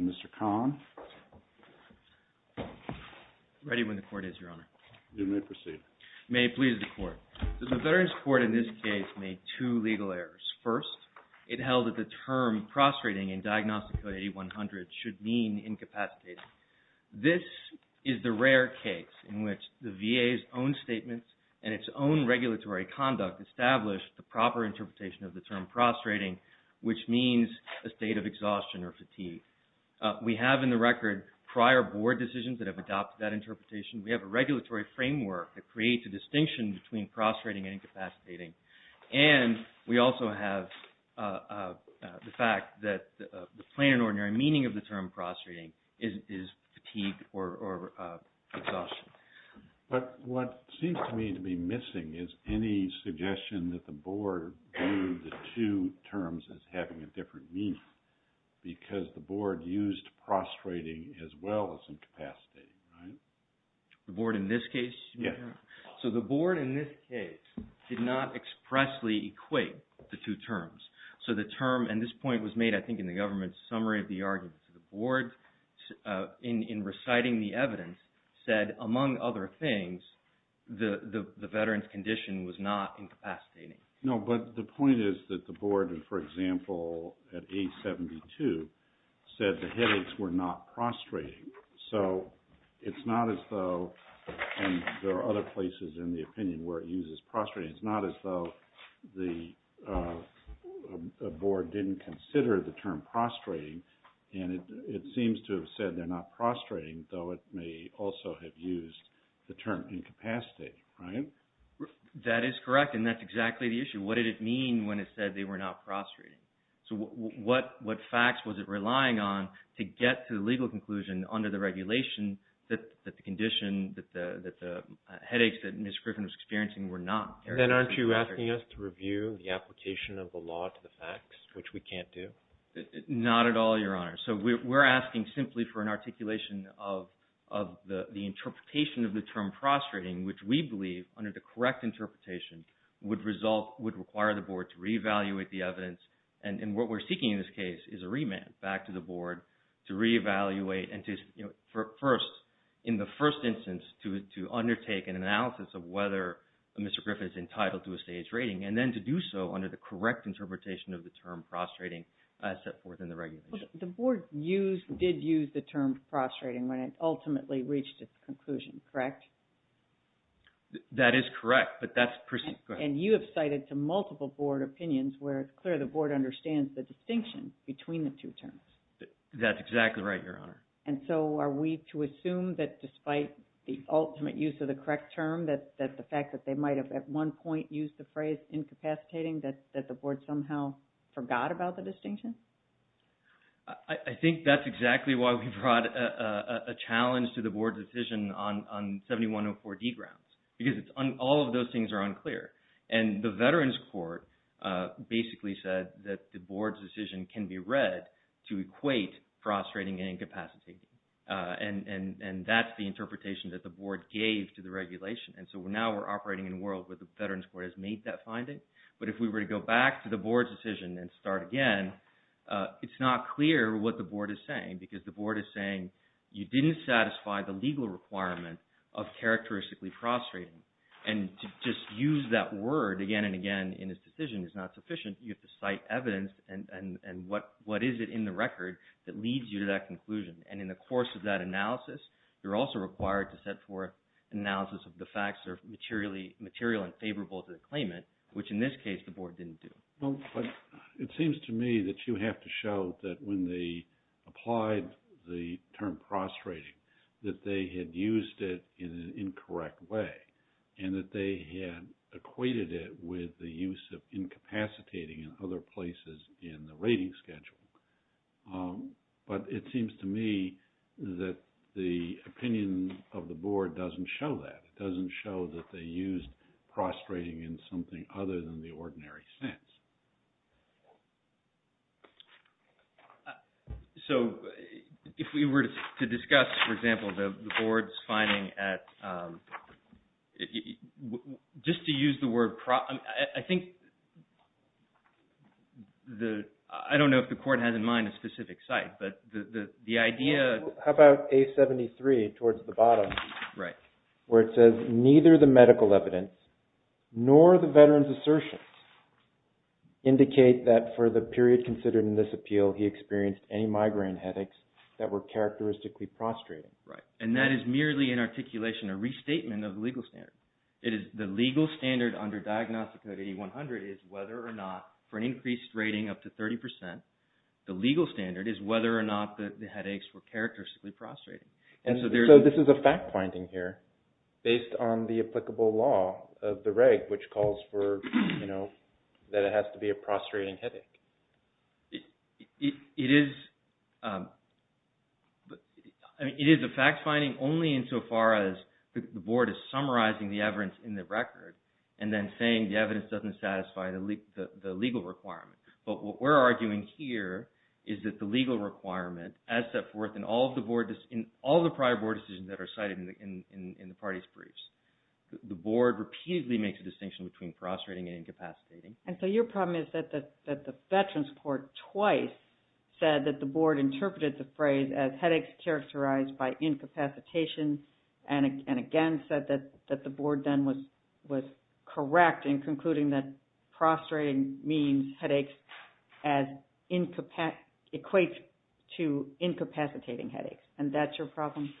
Mr. Kahn? Ready when the Court is, Your Honor. You may proceed. May it please the Court. The Veterans Court in this case made two legal errors. First, it held that the term prostrating in Diagnostico 8100 should mean incapacitating. This is the rare case in which the VA's own statements and its own regulatory conduct established the proper interpretation of the term prostrating, which means a state of exhaustion or fatigue. We have in the record prior Board decisions that have adopted that interpretation. We have a regulatory framework that creates a distinction between prostrating and incapacitating. And we also have the fact that the plain and ordinary meaning of the term prostrating is fatigue or exhaustion. But what seems to me to be missing is any suggestion that the Board viewed the two terms as having a different meaning because the Board used prostrating as well as incapacitating. The Board in this case? Yes. So the Board in this case did not expressly equate the two terms. So the term, and this point was made I think in the government's summary of the argument, the Board in reciting the evidence said, among other things, the veteran's condition was not incapacitating. No, but the point is that the Board, for example, at 872 said the headaches were not prostrating. So it's not as though, and there are other places in the opinion where it seems to have said they're not prostrating, though it may also have used the term incapacitating, right? That is correct, and that's exactly the issue. What did it mean when it said they were not prostrating? So what facts was it relying on to get to the legal conclusion under the regulation that the condition, that the headaches that Ms. Griffin was experiencing were not? Then aren't you asking us to review the application of the law to the facts, which we can't do? Not at all, Your Honor. So we're asking simply for an articulation of the interpretation of the term prostrating, which we believe, under the correct interpretation, would require the Board to reevaluate the evidence, and what we're seeking in this case is a remand back to the Board to reevaluate and to first, in the first instance, to undertake an analysis of whether Mr. Griffin is entitled to a staged rating, and then to do so under the correct interpretation of the term The Board did use the term prostrating when it ultimately reached its conclusion, correct? That is correct, but that's... And you have cited to multiple Board opinions where it's clear the Board understands the distinction between the two terms. That's exactly right, Your Honor. And so are we to assume that despite the ultimate use of the correct term, that the fact that they might have at one point used the phrase incapacitating, that the Board somehow forgot about the distinction? I think that's exactly why we brought a challenge to the Board's decision on 7104 D grounds, because all of those things are unclear, and the Veterans Court basically said that the Board's decision can be read to equate prostrating and incapacitating, and that's the interpretation that the Board gave to the regulation, and so now we're operating in a world where the Veterans Court has made that finding, but if we were to go back to the Board's decision and start again, it's not clear what the Board is saying, because the Board is saying you didn't satisfy the legal requirement of characteristically prostrating, and to just use that word again and again in this decision is not sufficient. You have to cite evidence, and what is it in the record that leads you to that conclusion? And in the course of that analysis, you're also required to set forth analysis of the facts that are material and favorable to the claimant, which in this case, the Board didn't do. It seems to me that you have to show that when they applied the term prostrating, that they had used it in an incorrect way, and that they had equated it with the use of incapacitating in other places in the rating schedule, but it seems to me that the opinion of the Board doesn't show that. It doesn't show that they used prostrating in something other than the ordinary sense. So, if we were to discuss, for example, the Board's finding at, just to use the word, I think, I don't know if the Court has in mind a specific site, but the idea... How about A73 towards the bottom? Right. Where it says, neither the medical evidence nor the veteran's assertions indicate that for the period considered in this appeal, he experienced any migraine headaches that were characteristically prostrating. Right. And that is merely an articulation, a restatement of the legal standard. The legal standard under Diagnostic Code 8100 is whether or not, for an increased rating up to 30 percent, the legal standard is whether or not the headaches were characteristically prostrating. So, this is a fact-finding here based on the applicable law of the reg, which calls for, you know, that it has to be a prostrating headache. It is a fact-finding only insofar as the Board is summarizing the evidence in the record and then saying the evidence doesn't satisfy the legal requirement. But what we're arguing here is that the legal requirement, as set forth in all of the prior Board decisions that are cited in the parties' briefs, the Board repeatedly makes a distinction between prostrating and incapacitating. And so, your problem is that the Veterans Court twice said that the Board interpreted the phrase as headaches characterized by incapacitation and again said that the Board then was correct in concluding that prostrating means headaches as equates to incapacitating headaches. And that's your problem?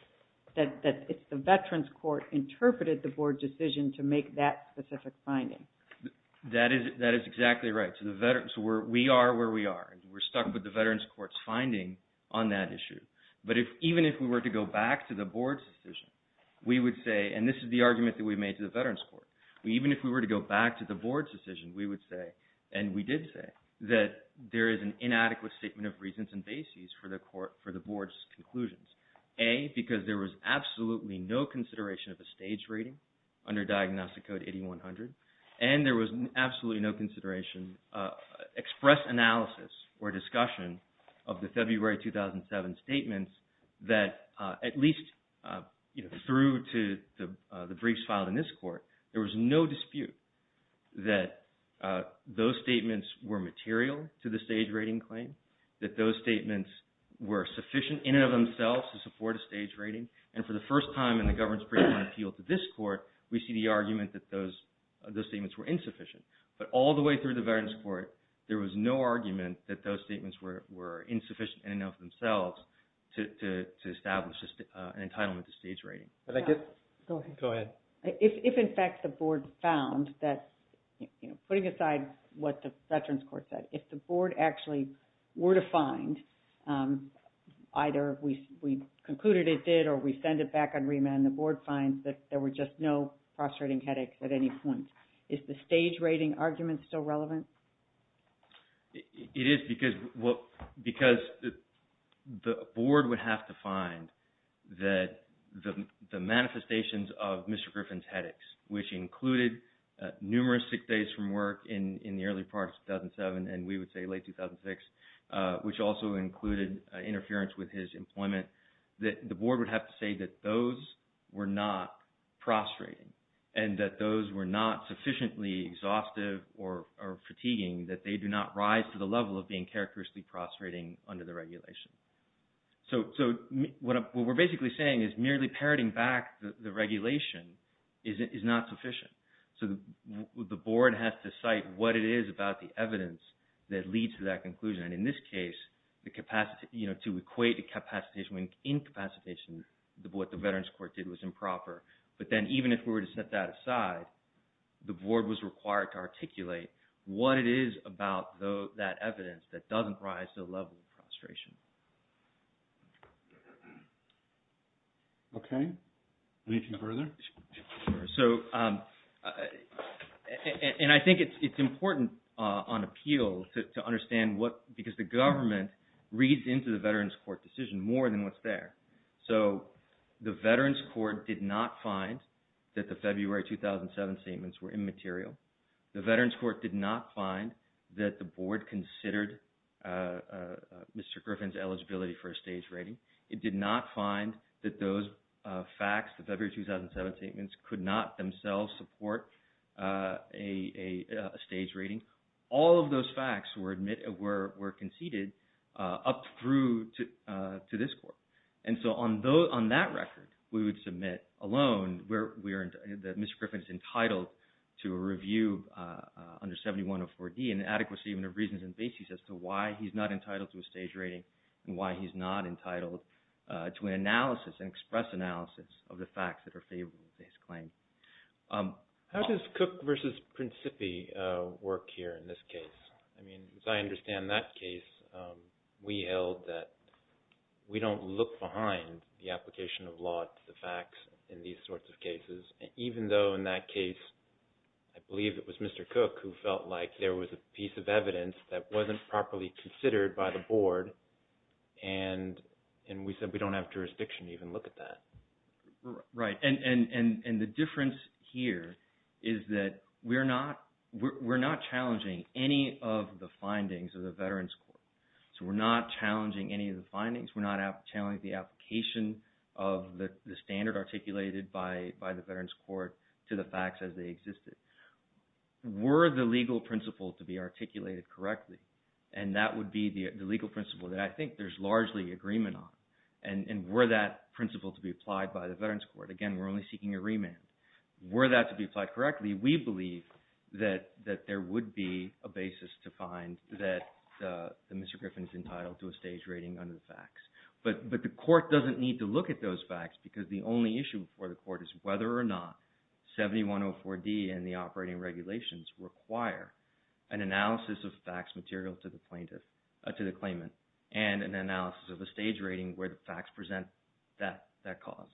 That the Veterans Court interpreted the Board decision to make that specific finding? That is exactly right. So, we are where we are. We're stuck with the Veterans Court's finding on that issue. But even if we were to go back to the Board's decision, we would say, and this is the argument that we made to the Veterans Court, even if we were to go back to the Board's decision, we would say, and we did say, that there is an inadequate statement of reasons and bases for the Board's conclusions. A, because there was absolutely no consideration of a stage rating under Diagnostic Code 8100, and there was absolutely no consideration, express analysis or discussion of the February 2007 statements that at least, you know, through to the briefs filed in this Court, there was no dispute that those statements were material to the stage rating claim, that those statements were sufficient in and of themselves to support a stage rating. And for the first time in the government's brief on appeal to this Court, we see the argument that those statements were insufficient. But all the way through the Veterans Court, there was no argument that those statements were insufficient in and of themselves to establish an entitlement to stage rating. If in fact the Board found that, you know, putting aside what the Veterans Court said, if the Board actually were to find, either we concluded it did or we concluded there was no prostrating headaches at any point, is the stage rating argument still relevant? It is, because the Board would have to find that the manifestations of Mr. Griffin's headaches, which included numerous sick days from work in the early part of 2007, and we would say late 2006, which also included interference with his employment, that the Board would have to say that those were not prostrating and that those were not sufficiently exhaustive or fatiguing, that they do not rise to the level of being characteristically prostrating under the regulation. So what we're basically saying is merely parroting back the regulation is not sufficient. So the Board has to cite what it is about the evidence that leads to that conclusion. And in this case, to equate the capacitation with incapacitation, what the Veterans Court did was improper. But then even if we were to set that aside, the Board was required to articulate what it is about that evidence that doesn't rise to the level of prostration. Okay. Anything further? So, and I think it's important on appeal to understand what, because the government reads into the Veterans Court decision more than what's there. So the Veterans Court did not find that the February 2007 statements were immaterial. The Veterans Court did not find that the Board considered Mr. Griffin's eligibility for a stage rating. It did not find that those facts, the February 2007 statements, could not themselves support a stage rating. All of those facts were conceded up through to this Court. And so on that record, we would submit alone that Mr. Griffin is entitled to a review under 7104D, an adequacy of reasons and basis as to why he's not entitled to a stage rating and why he's not entitled to an analysis, an express analysis of the facts that are favorable to his claim. How does Cook v. Principi work here in this case? I mean, as I understand that case, we held that we don't look behind the application of law to the facts in these sorts of cases, even though in that case, I believe it was Mr. Cook who felt like there was a piece of evidence that wasn't properly considered by the Board, and we said we don't have jurisdiction to even look at that. Right. And the difference here is that we're not challenging any of the findings of the Veterans Court. So we're not challenging any of the findings. We're not challenging the application of the standard articulated by the Veterans Court to the facts as they existed. Were the legal principle to be articulated correctly, and that would be the legal principle that I think there's largely agreement on, and were that principle to be applied by the Veterans Court, again, we're only seeking a remand. Were that to be applied correctly, we believe that there would be a basis to find that Mr. Griffin is entitled to a stage rating under the facts. But the court doesn't need to look at those facts because the only issue before the court is whether or not 7104D and the operating regulations require an analysis of facts material to the claimant and an analysis of the stage rating where the facts present that cause.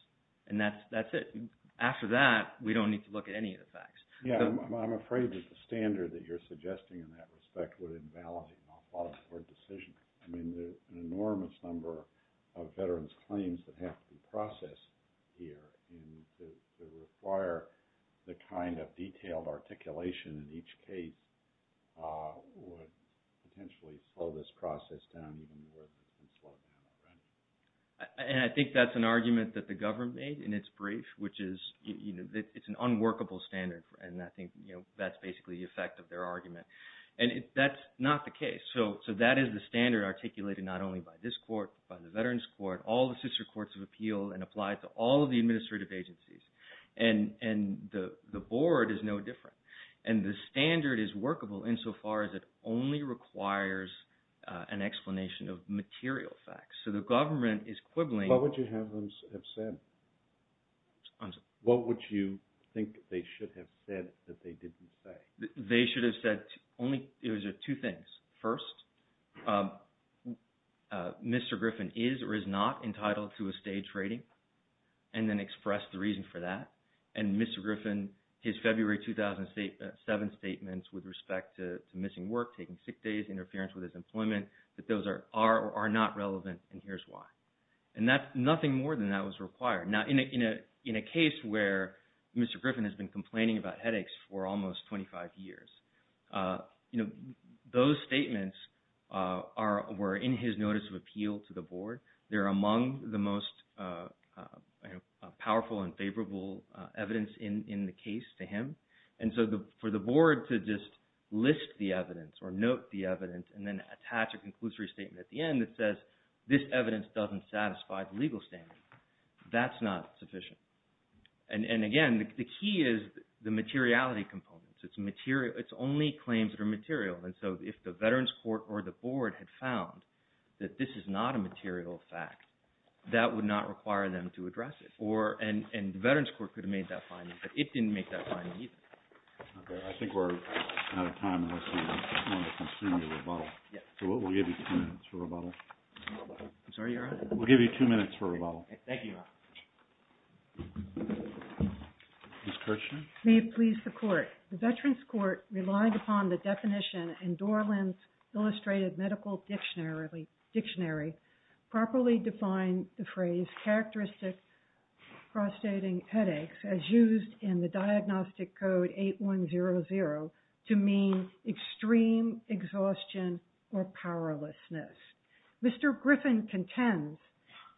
And that's it. After that, we don't need to look at any of the facts. Yeah, I'm afraid that the standard that you're suggesting in that respect would invalidate my thought of the Board decision. I mean, there's an enormous number of veterans' claims that have to be processed here, and to require the kind of detailed articulation in each case would potentially slow this process down even more than it can slow it down already. And I think that's an argument that the government made in its brief, which is it's an unworkable standard, and I think that's basically the effect of their argument. And that's not the case, so that is the standard articulated not only by this court, by the Veterans Court, all the sister courts of appeal, and applied to all of the administrative agencies. And the Board is no different. And the standard is workable insofar as it only requires an explanation of material facts. So the government is quibbling. What would you have them have said? What would you think they should have said that they didn't say? They should have said only two things. First, Mr. Griffin is or is not entitled to a staged rating, and then expressed the reason for that. And Mr. Griffin, his February 2007 statements with respect to missing work, taking sick days, interference with his employment, that those are or are not relevant, and here's why. And nothing more than that was required. Now, in a case where Mr. Griffin has been complaining about headaches for almost 25 years, those statements were in his notice of appeal to the Board. They're among the most powerful and favorable evidence in the case to him. And so for the Board to just list the evidence or note the evidence and then attach a conclusory statement at the end that says, this evidence doesn't satisfy the legal standard, that's not sufficient. And again, the key is the materiality components. It's material. It's only claims that are material. And so if the Veterans Court or the Board had found that this is not a material fact, that would not require them to address it. And the Veterans Court could have made that finding, but it didn't make that finding either. Okay. I think we're out of time. I just want to continue the rebuttal. So we'll give you two minutes for rebuttal. I'm sorry, Your Honor? We'll give you two minutes for rebuttal. Thank you, Your Honor. Ms. Kirchner? Your Honor, may it please the Court. The Veterans Court relied upon the definition in Dorland's Illustrated Medical Dictionary properly defined the phrase characteristic prostrating headaches as used in the Diagnostic Code 8100 to mean extreme exhaustion or powerlessness. Mr. Griffin contends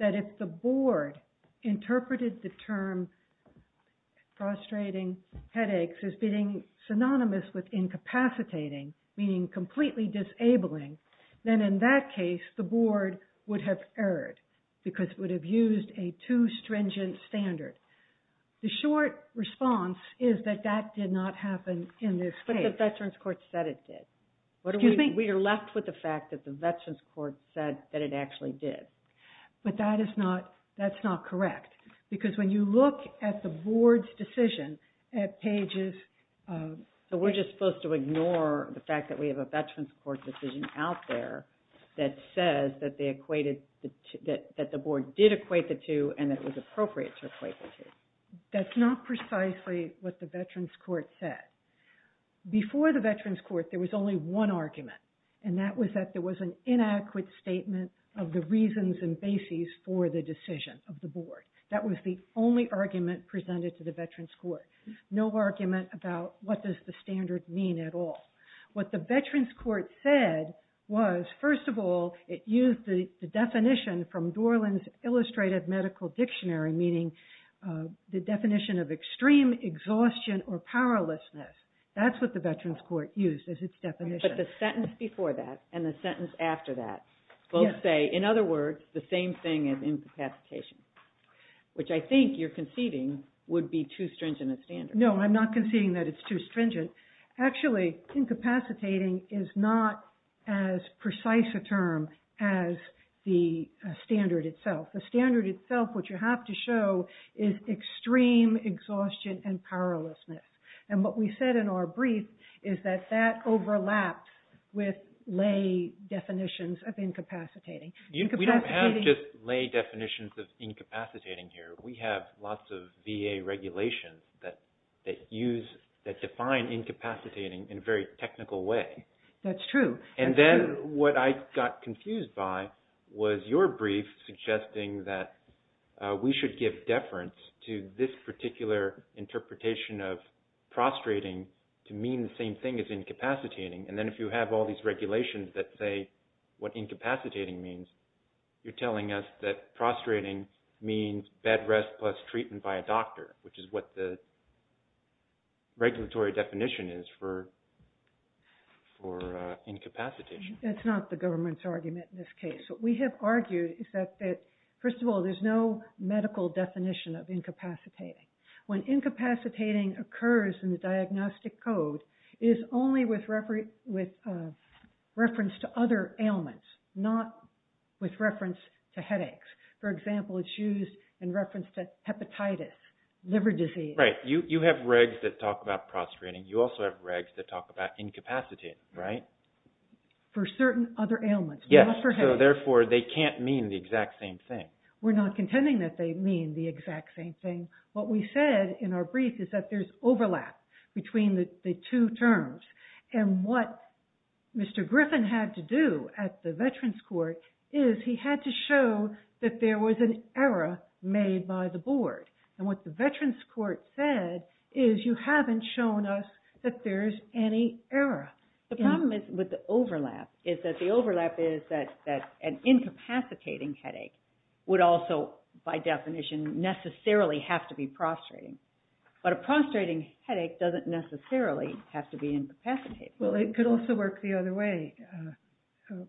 that if the Board interpreted the term prostrating headaches as being synonymous with incapacitating, meaning completely disabling, then in that case the Board would have erred because it would have used a too stringent standard. The short response is that that did not happen in this case. But the Veterans Court said it did. Excuse me? We are left with the fact that the Veterans Court said that it actually did. But that is not – that's not correct. Because when you look at the Board's decision at pages – So we're just supposed to ignore the fact that we have a Veterans Court decision out there that says that they equated – that the Board did equate the two and that it was appropriate to equate the two. That's not precisely what the Veterans Court said. Before the Veterans Court, there was only one argument. And that was that there was an inadequate statement of the reasons and basis for the decision of the Board. That was the only argument presented to the Veterans Court. No argument about what does the standard mean at all. What the Veterans Court said was, first of all, it used the definition from Dorland's Illustrated Medical Dictionary, meaning the definition of extreme exhaustion or powerlessness. That's what the Veterans Court used as its definition. But the sentence before that and the sentence after that both say, in other words, the same thing as incapacitation, which I think you're conceiving would be too stringent a standard. No, I'm not conceiving that it's too stringent. Actually, incapacitating is not as precise a term as the standard itself. The standard itself, what you have to show is extreme exhaustion and powerlessness. And what we said in our brief is that that overlaps with lay definitions of incapacitating. We don't have just lay definitions of incapacitating here. We have lots of VA regulations that define incapacitating in a very technical way. That's true. And then what I got confused by was your brief suggesting that we should give deference to this particular interpretation of prostrating to mean the same thing as incapacitating. And then if you have all these regulations that say what incapacitating means, you're telling us that prostrating means bed rest plus treatment by a doctor, which is what the regulatory definition is for incapacitation. That's not the government's argument in this case. What we have argued is that, first of all, there's no medical definition of incapacitating. When incapacitating occurs in the diagnostic code, it is only with reference to other ailments, not with reference to headaches. For example, it's used in reference to hepatitis, liver disease. Right. You have regs that talk about prostrating. You also have regs that talk about incapacitating, right? For certain other ailments, not for headaches. Yes, so therefore they can't mean the exact same thing. We're not contending that they mean the exact same thing. What we said in our brief is that there's overlap between the two terms. And what Mr. Griffin had to do at the Veterans Court is he had to show that there was an error made by the board. And what the Veterans Court said is, you haven't shown us that there's any error. The problem with the overlap is that the overlap is that an incapacitating headache would also, by definition, necessarily have to be prostrating. But a prostrating headache doesn't necessarily have to be incapacitated. Well, it could also work the other way,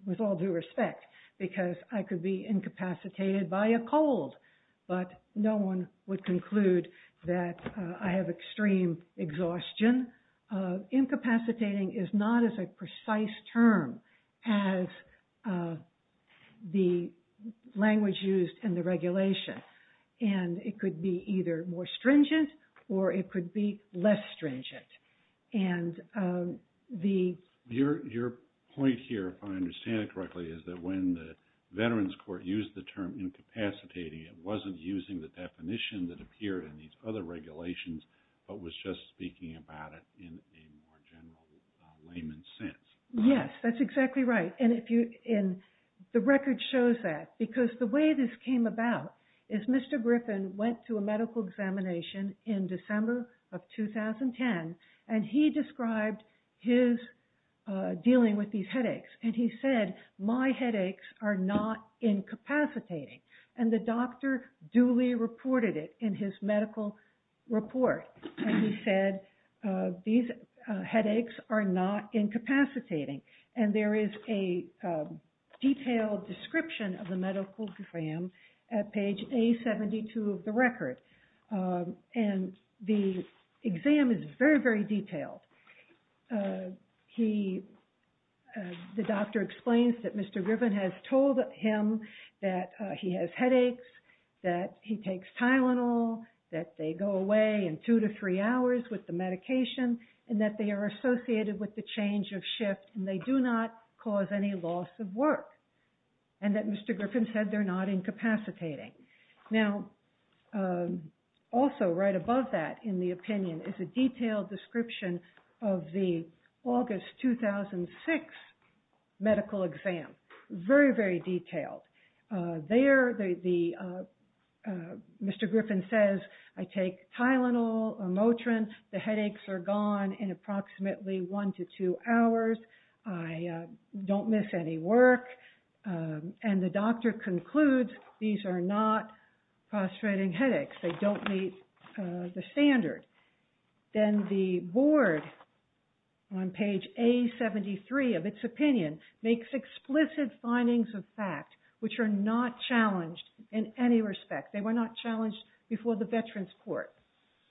with all due respect. Because I could be incapacitated by a cold, but no one would conclude that I have extreme exhaustion. Incapacitating is not as a precise term as the language used in the regulation. And it could be either more stringent, or it could be less stringent. Your point here, if I understand it correctly, is that when the Veterans Court used the term incapacitating, it wasn't using the definition that appeared in these other regulations, but was just speaking about it in a more general layman's sense. Yes, that's exactly right. The record shows that. Because the way this came about is Mr. Griffin went to a medical examination in December of 2010, and he described his dealing with these headaches. And he said, my headaches are not incapacitating. And the doctor duly reported it in his medical report. And he said, these headaches are not incapacitating. And there is a detailed description of the medical exam at page A72 of the record. And the exam is very, very detailed. The doctor explains that Mr. Griffin has told him that he has headaches, that he takes Tylenol, that they go away in two to three hours with the medication, and that they are associated with the change of shift, and they do not cause any loss of work. And that Mr. Griffin said they're not incapacitating. Now, also right above that in the opinion is a detailed description of the August 2006 medical exam. Very, very detailed. There, Mr. Griffin says, I take Tylenol or Motrin. The headaches are gone in approximately one to two hours. I don't miss any work. And the doctor concludes these are not frustrating headaches. They don't meet the standard. Then the board on page A73 of its opinion makes explicit findings of fact, which are not challenged in any respect. They were not challenged before the Veterans Court.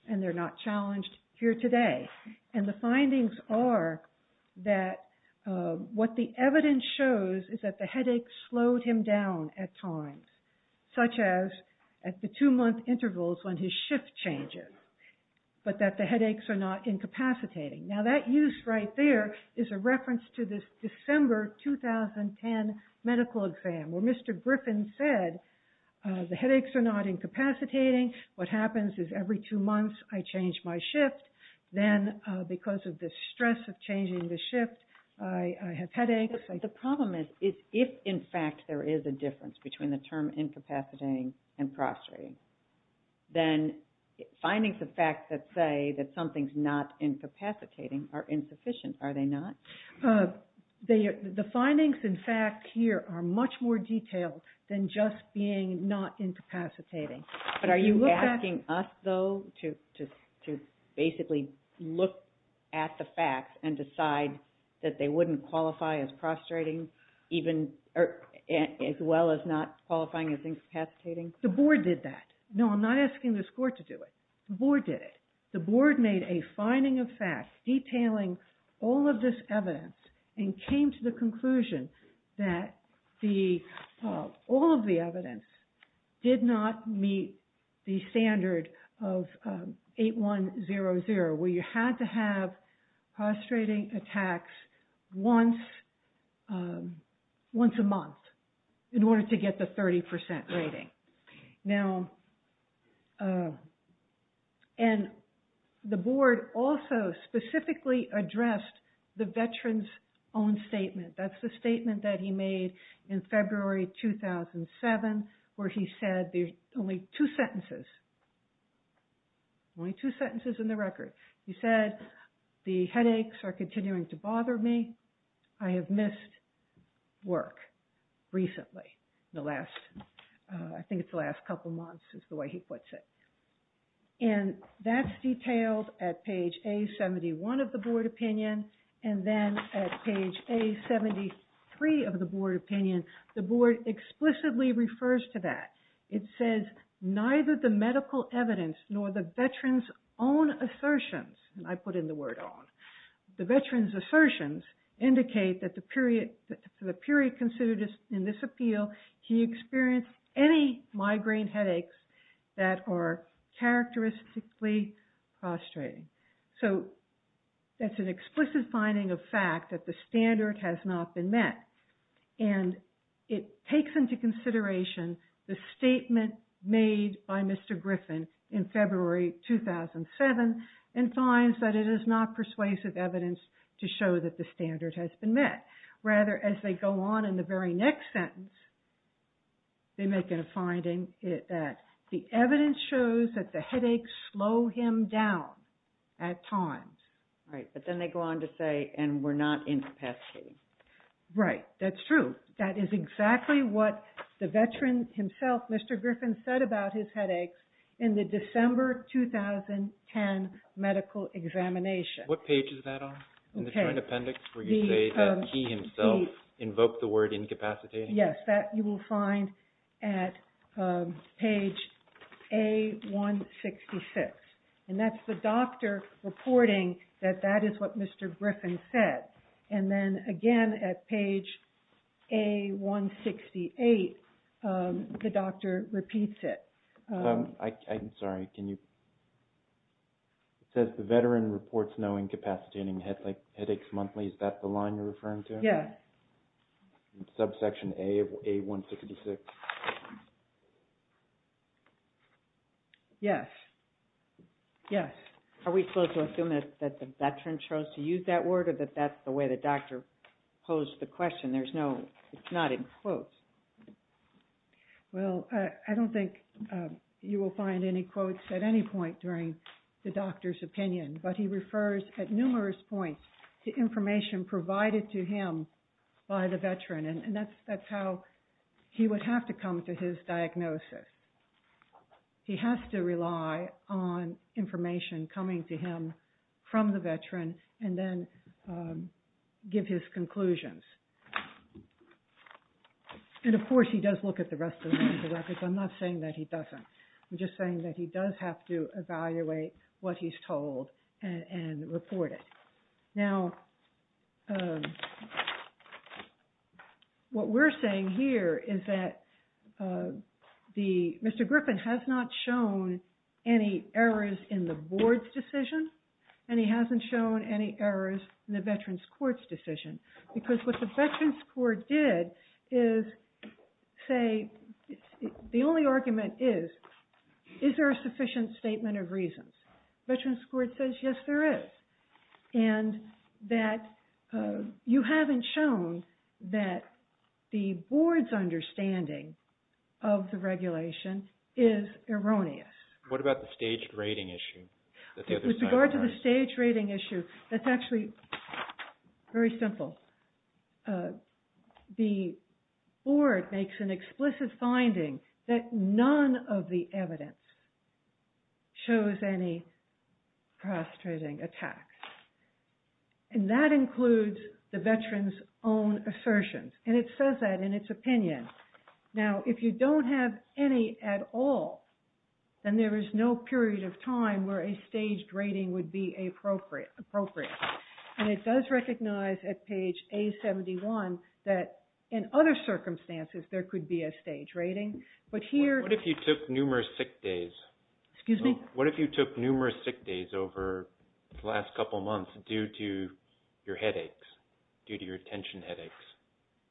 And they're not challenged here today. And the findings are that what the evidence shows is that the headaches slowed him down at times, such as at the two-month intervals when his shift changes. But that the headaches are not incapacitating. Now, that use right there is a reference to this December 2010 medical exam, where Mr. Griffin said the headaches are not incapacitating. What happens is every two months I change my shift. Then because of the stress of changing the shift, I have headaches. The problem is if, in fact, there is a difference between the term incapacitating and prostrating, then findings of fact that say that something is not incapacitating are insufficient. Are they not? The findings in fact here are much more detailed than just being not incapacitating. But are you asking us, though, to basically look at the facts and decide that they wouldn't qualify as prostrating as well as not qualifying as incapacitating? The board did that. No, I'm not asking this court to do it. The board did it. The board made a finding of fact detailing all of this evidence and came to the conclusion that all of the evidence did not meet the standard of 8100, where you had to have prostrating attacks once a month in order to get the 30% rating. The board also specifically addressed the veteran's own statement. That's the statement that he made in February 2007, where he said there's only two sentences in the record. He said, the headaches are continuing to bother me. I have missed work recently. I think it's the last couple of months is the way he puts it. And that's detailed at page A71 of the board opinion. And then at page A73 of the board opinion, the board explicitly refers to that. It says, neither the medical evidence nor the veteran's own assertions, and I put in the word own, the veteran's assertions indicate that for the period considered in this appeal, he experienced any migraine headaches that are characteristically prostrating. So that's an explicit finding of fact that the standard has not been met. And it takes into consideration the statement made by Mr. Griffin in February 2007 and finds that it is not persuasive evidence to show that the standard has been met. Rather, as they go on in the very next sentence, they make a finding that the evidence shows that the headaches slow him down at times. Right, but then they go on to say, and we're not incapacitating. Right, that's true. That is exactly what the veteran himself, Mr. Griffin, said about his headaches in the December 2010 medical examination. What page is that on in the appendix where you say that he himself invoked the word incapacitating? Yes, that you will find at page A-166. And that's the doctor reporting that that is what Mr. Griffin said. And then again at page A-168, the doctor repeats it. I'm sorry. It says the veteran reports no incapacitating headaches monthly. Is that the line you're referring to? Yes. Subsection A of A-166. Yes. Yes. Are we supposed to assume that the veteran chose to use that word or that that's the way the doctor posed the question? There's no, it's not in quotes. Well, I don't think you will find any quotes at any point during the doctor's opinion, but he refers at numerous points to information provided to him by the veteran, and that's how he would have to come to his diagnosis. He has to rely on information coming to him from the veteran and then give his conclusions. And, of course, he does look at the rest of the records. I'm not saying that he doesn't. I'm just saying that he does have to evaluate what he's told and report it. Now, what we're saying here is that Mr. Griffin has not shown any errors in the board's decision and he hasn't shown any errors in the veteran's court's decision because what the veteran's court did is say, the only argument is, is there a sufficient statement of reasons? Veteran's court says, yes, there is, and that you haven't shown that the board's understanding of the regulation is erroneous. What about the staged rating issue? With regard to the staged rating issue, that's actually very simple. The board makes an explicit finding that none of the evidence shows any frustrating attacks, and that includes the veteran's own assertions, and it says that in its opinion. Now, if you don't have any at all, then there is no period of time where a staged rating would be appropriate, and it does recognize at page A71 that in other circumstances there could be a staged rating. What if you took numerous sick days over the last couple of months due to your headaches, due to your attention headaches?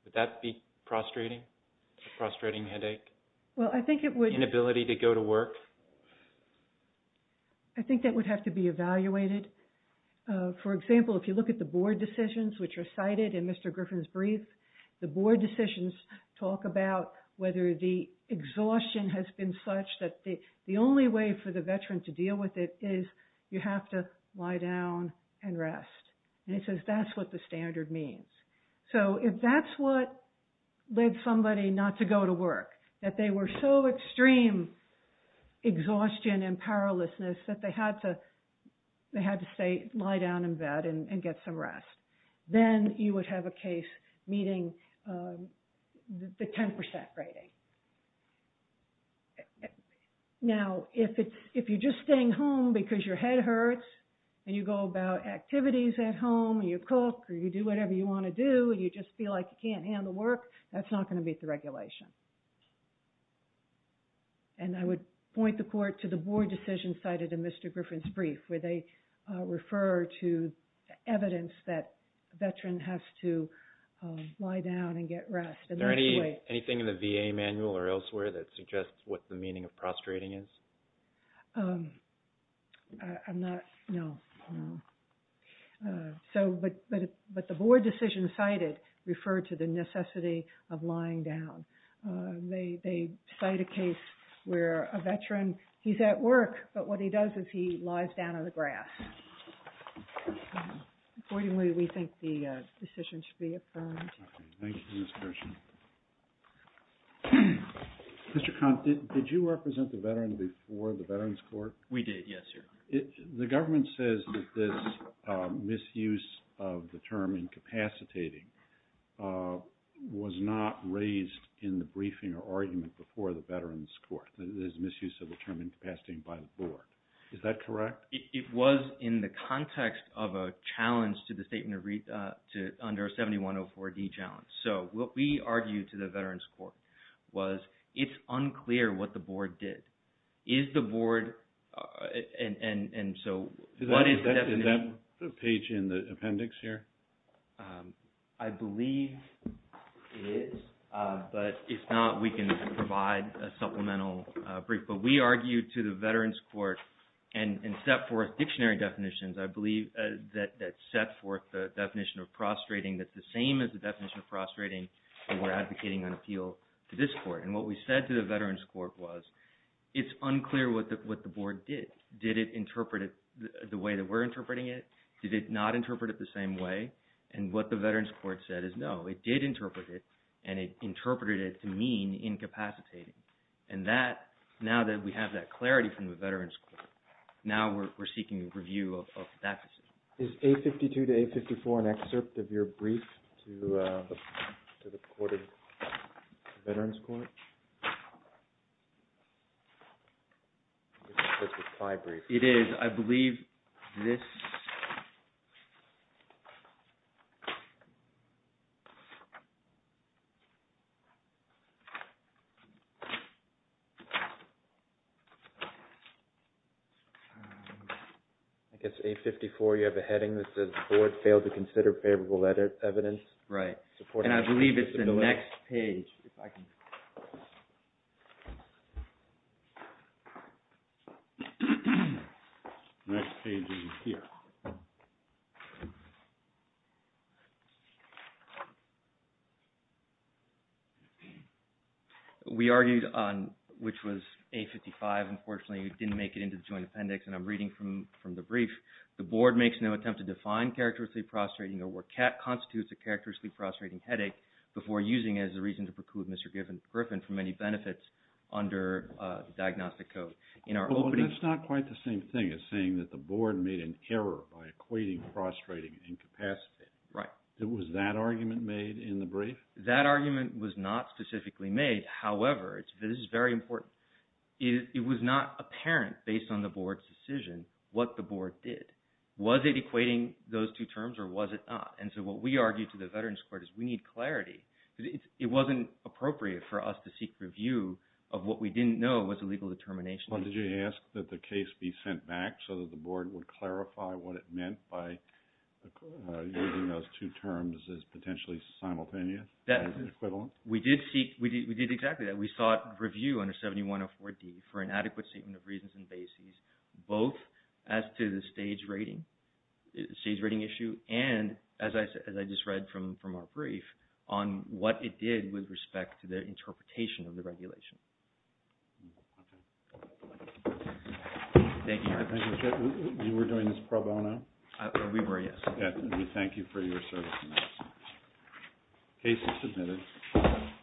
Would that be a frustrating headache? Well, I think it would. Inability to go to work? I think that would have to be evaluated. For example, if you look at the board decisions, which are cited in Mr. Griffin's brief, the board decisions talk about whether the exhaustion has been such that the only way for the veteran to deal with it is you have to lie down and rest, and it says that's what the standard means. So if that's what led somebody not to go to work, that they were so extreme exhaustion and powerlessness that they had to lie down in bed and get some rest, then you would have a case meeting the 10% rating. Now, if you're just staying home because your head hurts, and you go about activities at home, and you cook, or you do whatever you want to do, and you just feel like you can't handle work, that's not going to meet the regulation. And I would point the court to the board decision cited in Mr. Griffin's brief, where they refer to evidence that a veteran has to lie down and get rest. Is there anything in the VA manual or elsewhere that suggests what the meaning of prostrating is? I'm not, no. So, but the board decision cited referred to the necessity of lying down. They cite a case where a veteran, he's at work, but what he does is he lies down on the grass. Accordingly, we think the decision should be affirmed. Thank you for this question. Mr. Kahn, did you represent the veteran before the Veterans Court? We did, yes, sir. The government says that this misuse of the term incapacitating was not raised in the briefing or argument before the Veterans Court, this misuse of the term incapacitating by the board. Is that correct? It was in the context of a challenge to the statement under 7104D challenge. So what we argued to the Veterans Court was it's unclear what the board did. Is the board, and so what is the definition? Is that page in the appendix here? I believe it is, but if not, we can provide a supplemental brief. But we argued to the Veterans Court and set forth dictionary definitions, I believe, that set forth the definition of prostrating that's the same as the definition of prostrating that we're advocating on appeal to this court. And what we said to the Veterans Court was it's unclear what the board did. Did it interpret it the way that we're interpreting it? Did it not interpret it the same way? And what the Veterans Court said is no, it did interpret it, and it interpreted it to mean incapacitating. And that, now that we have that clarity from the Veterans Court, now we're seeking a review of that decision. Is 852 to 854 an excerpt of your brief to the court of Veterans Court? It is. And I believe this... I guess 854, you have a heading that says the board failed to consider favorable evidence. Right, and I believe it's the next page. Next page is here. We argued on which was 855. Unfortunately, we didn't make it into the joint appendix, and I'm reading from the brief. The board makes no attempt to define characteristically prostrating or constitutes a characteristically prostrating headache before using it as a reason to preclude Mr. Griffin from any benefits under the diagnostic code. That's not quite the same thing as saying that the board made an error by equating prostrating and incapacitating. Was that argument made in the brief? That argument was not specifically made. However, this is very important, it was not apparent based on the board's decision what the board did. Was it equating those two terms or was it not? And so what we argued to the Veterans Court is we need clarity. It wasn't appropriate for us to seek review of what we didn't know was a legal determination. Did you ask that the case be sent back so that the board would clarify what it meant by using those two terms as potentially simultaneous or equivalent? We did exactly that. We sought review under 7104D for an adequate statement of reasons and bases, both as to the stage rating issue and, as I just read from our brief, on what it did with respect to the interpretation of the regulation. Thank you. You were doing this pro bono? We were, yes. We thank you for your service. The case is submitted.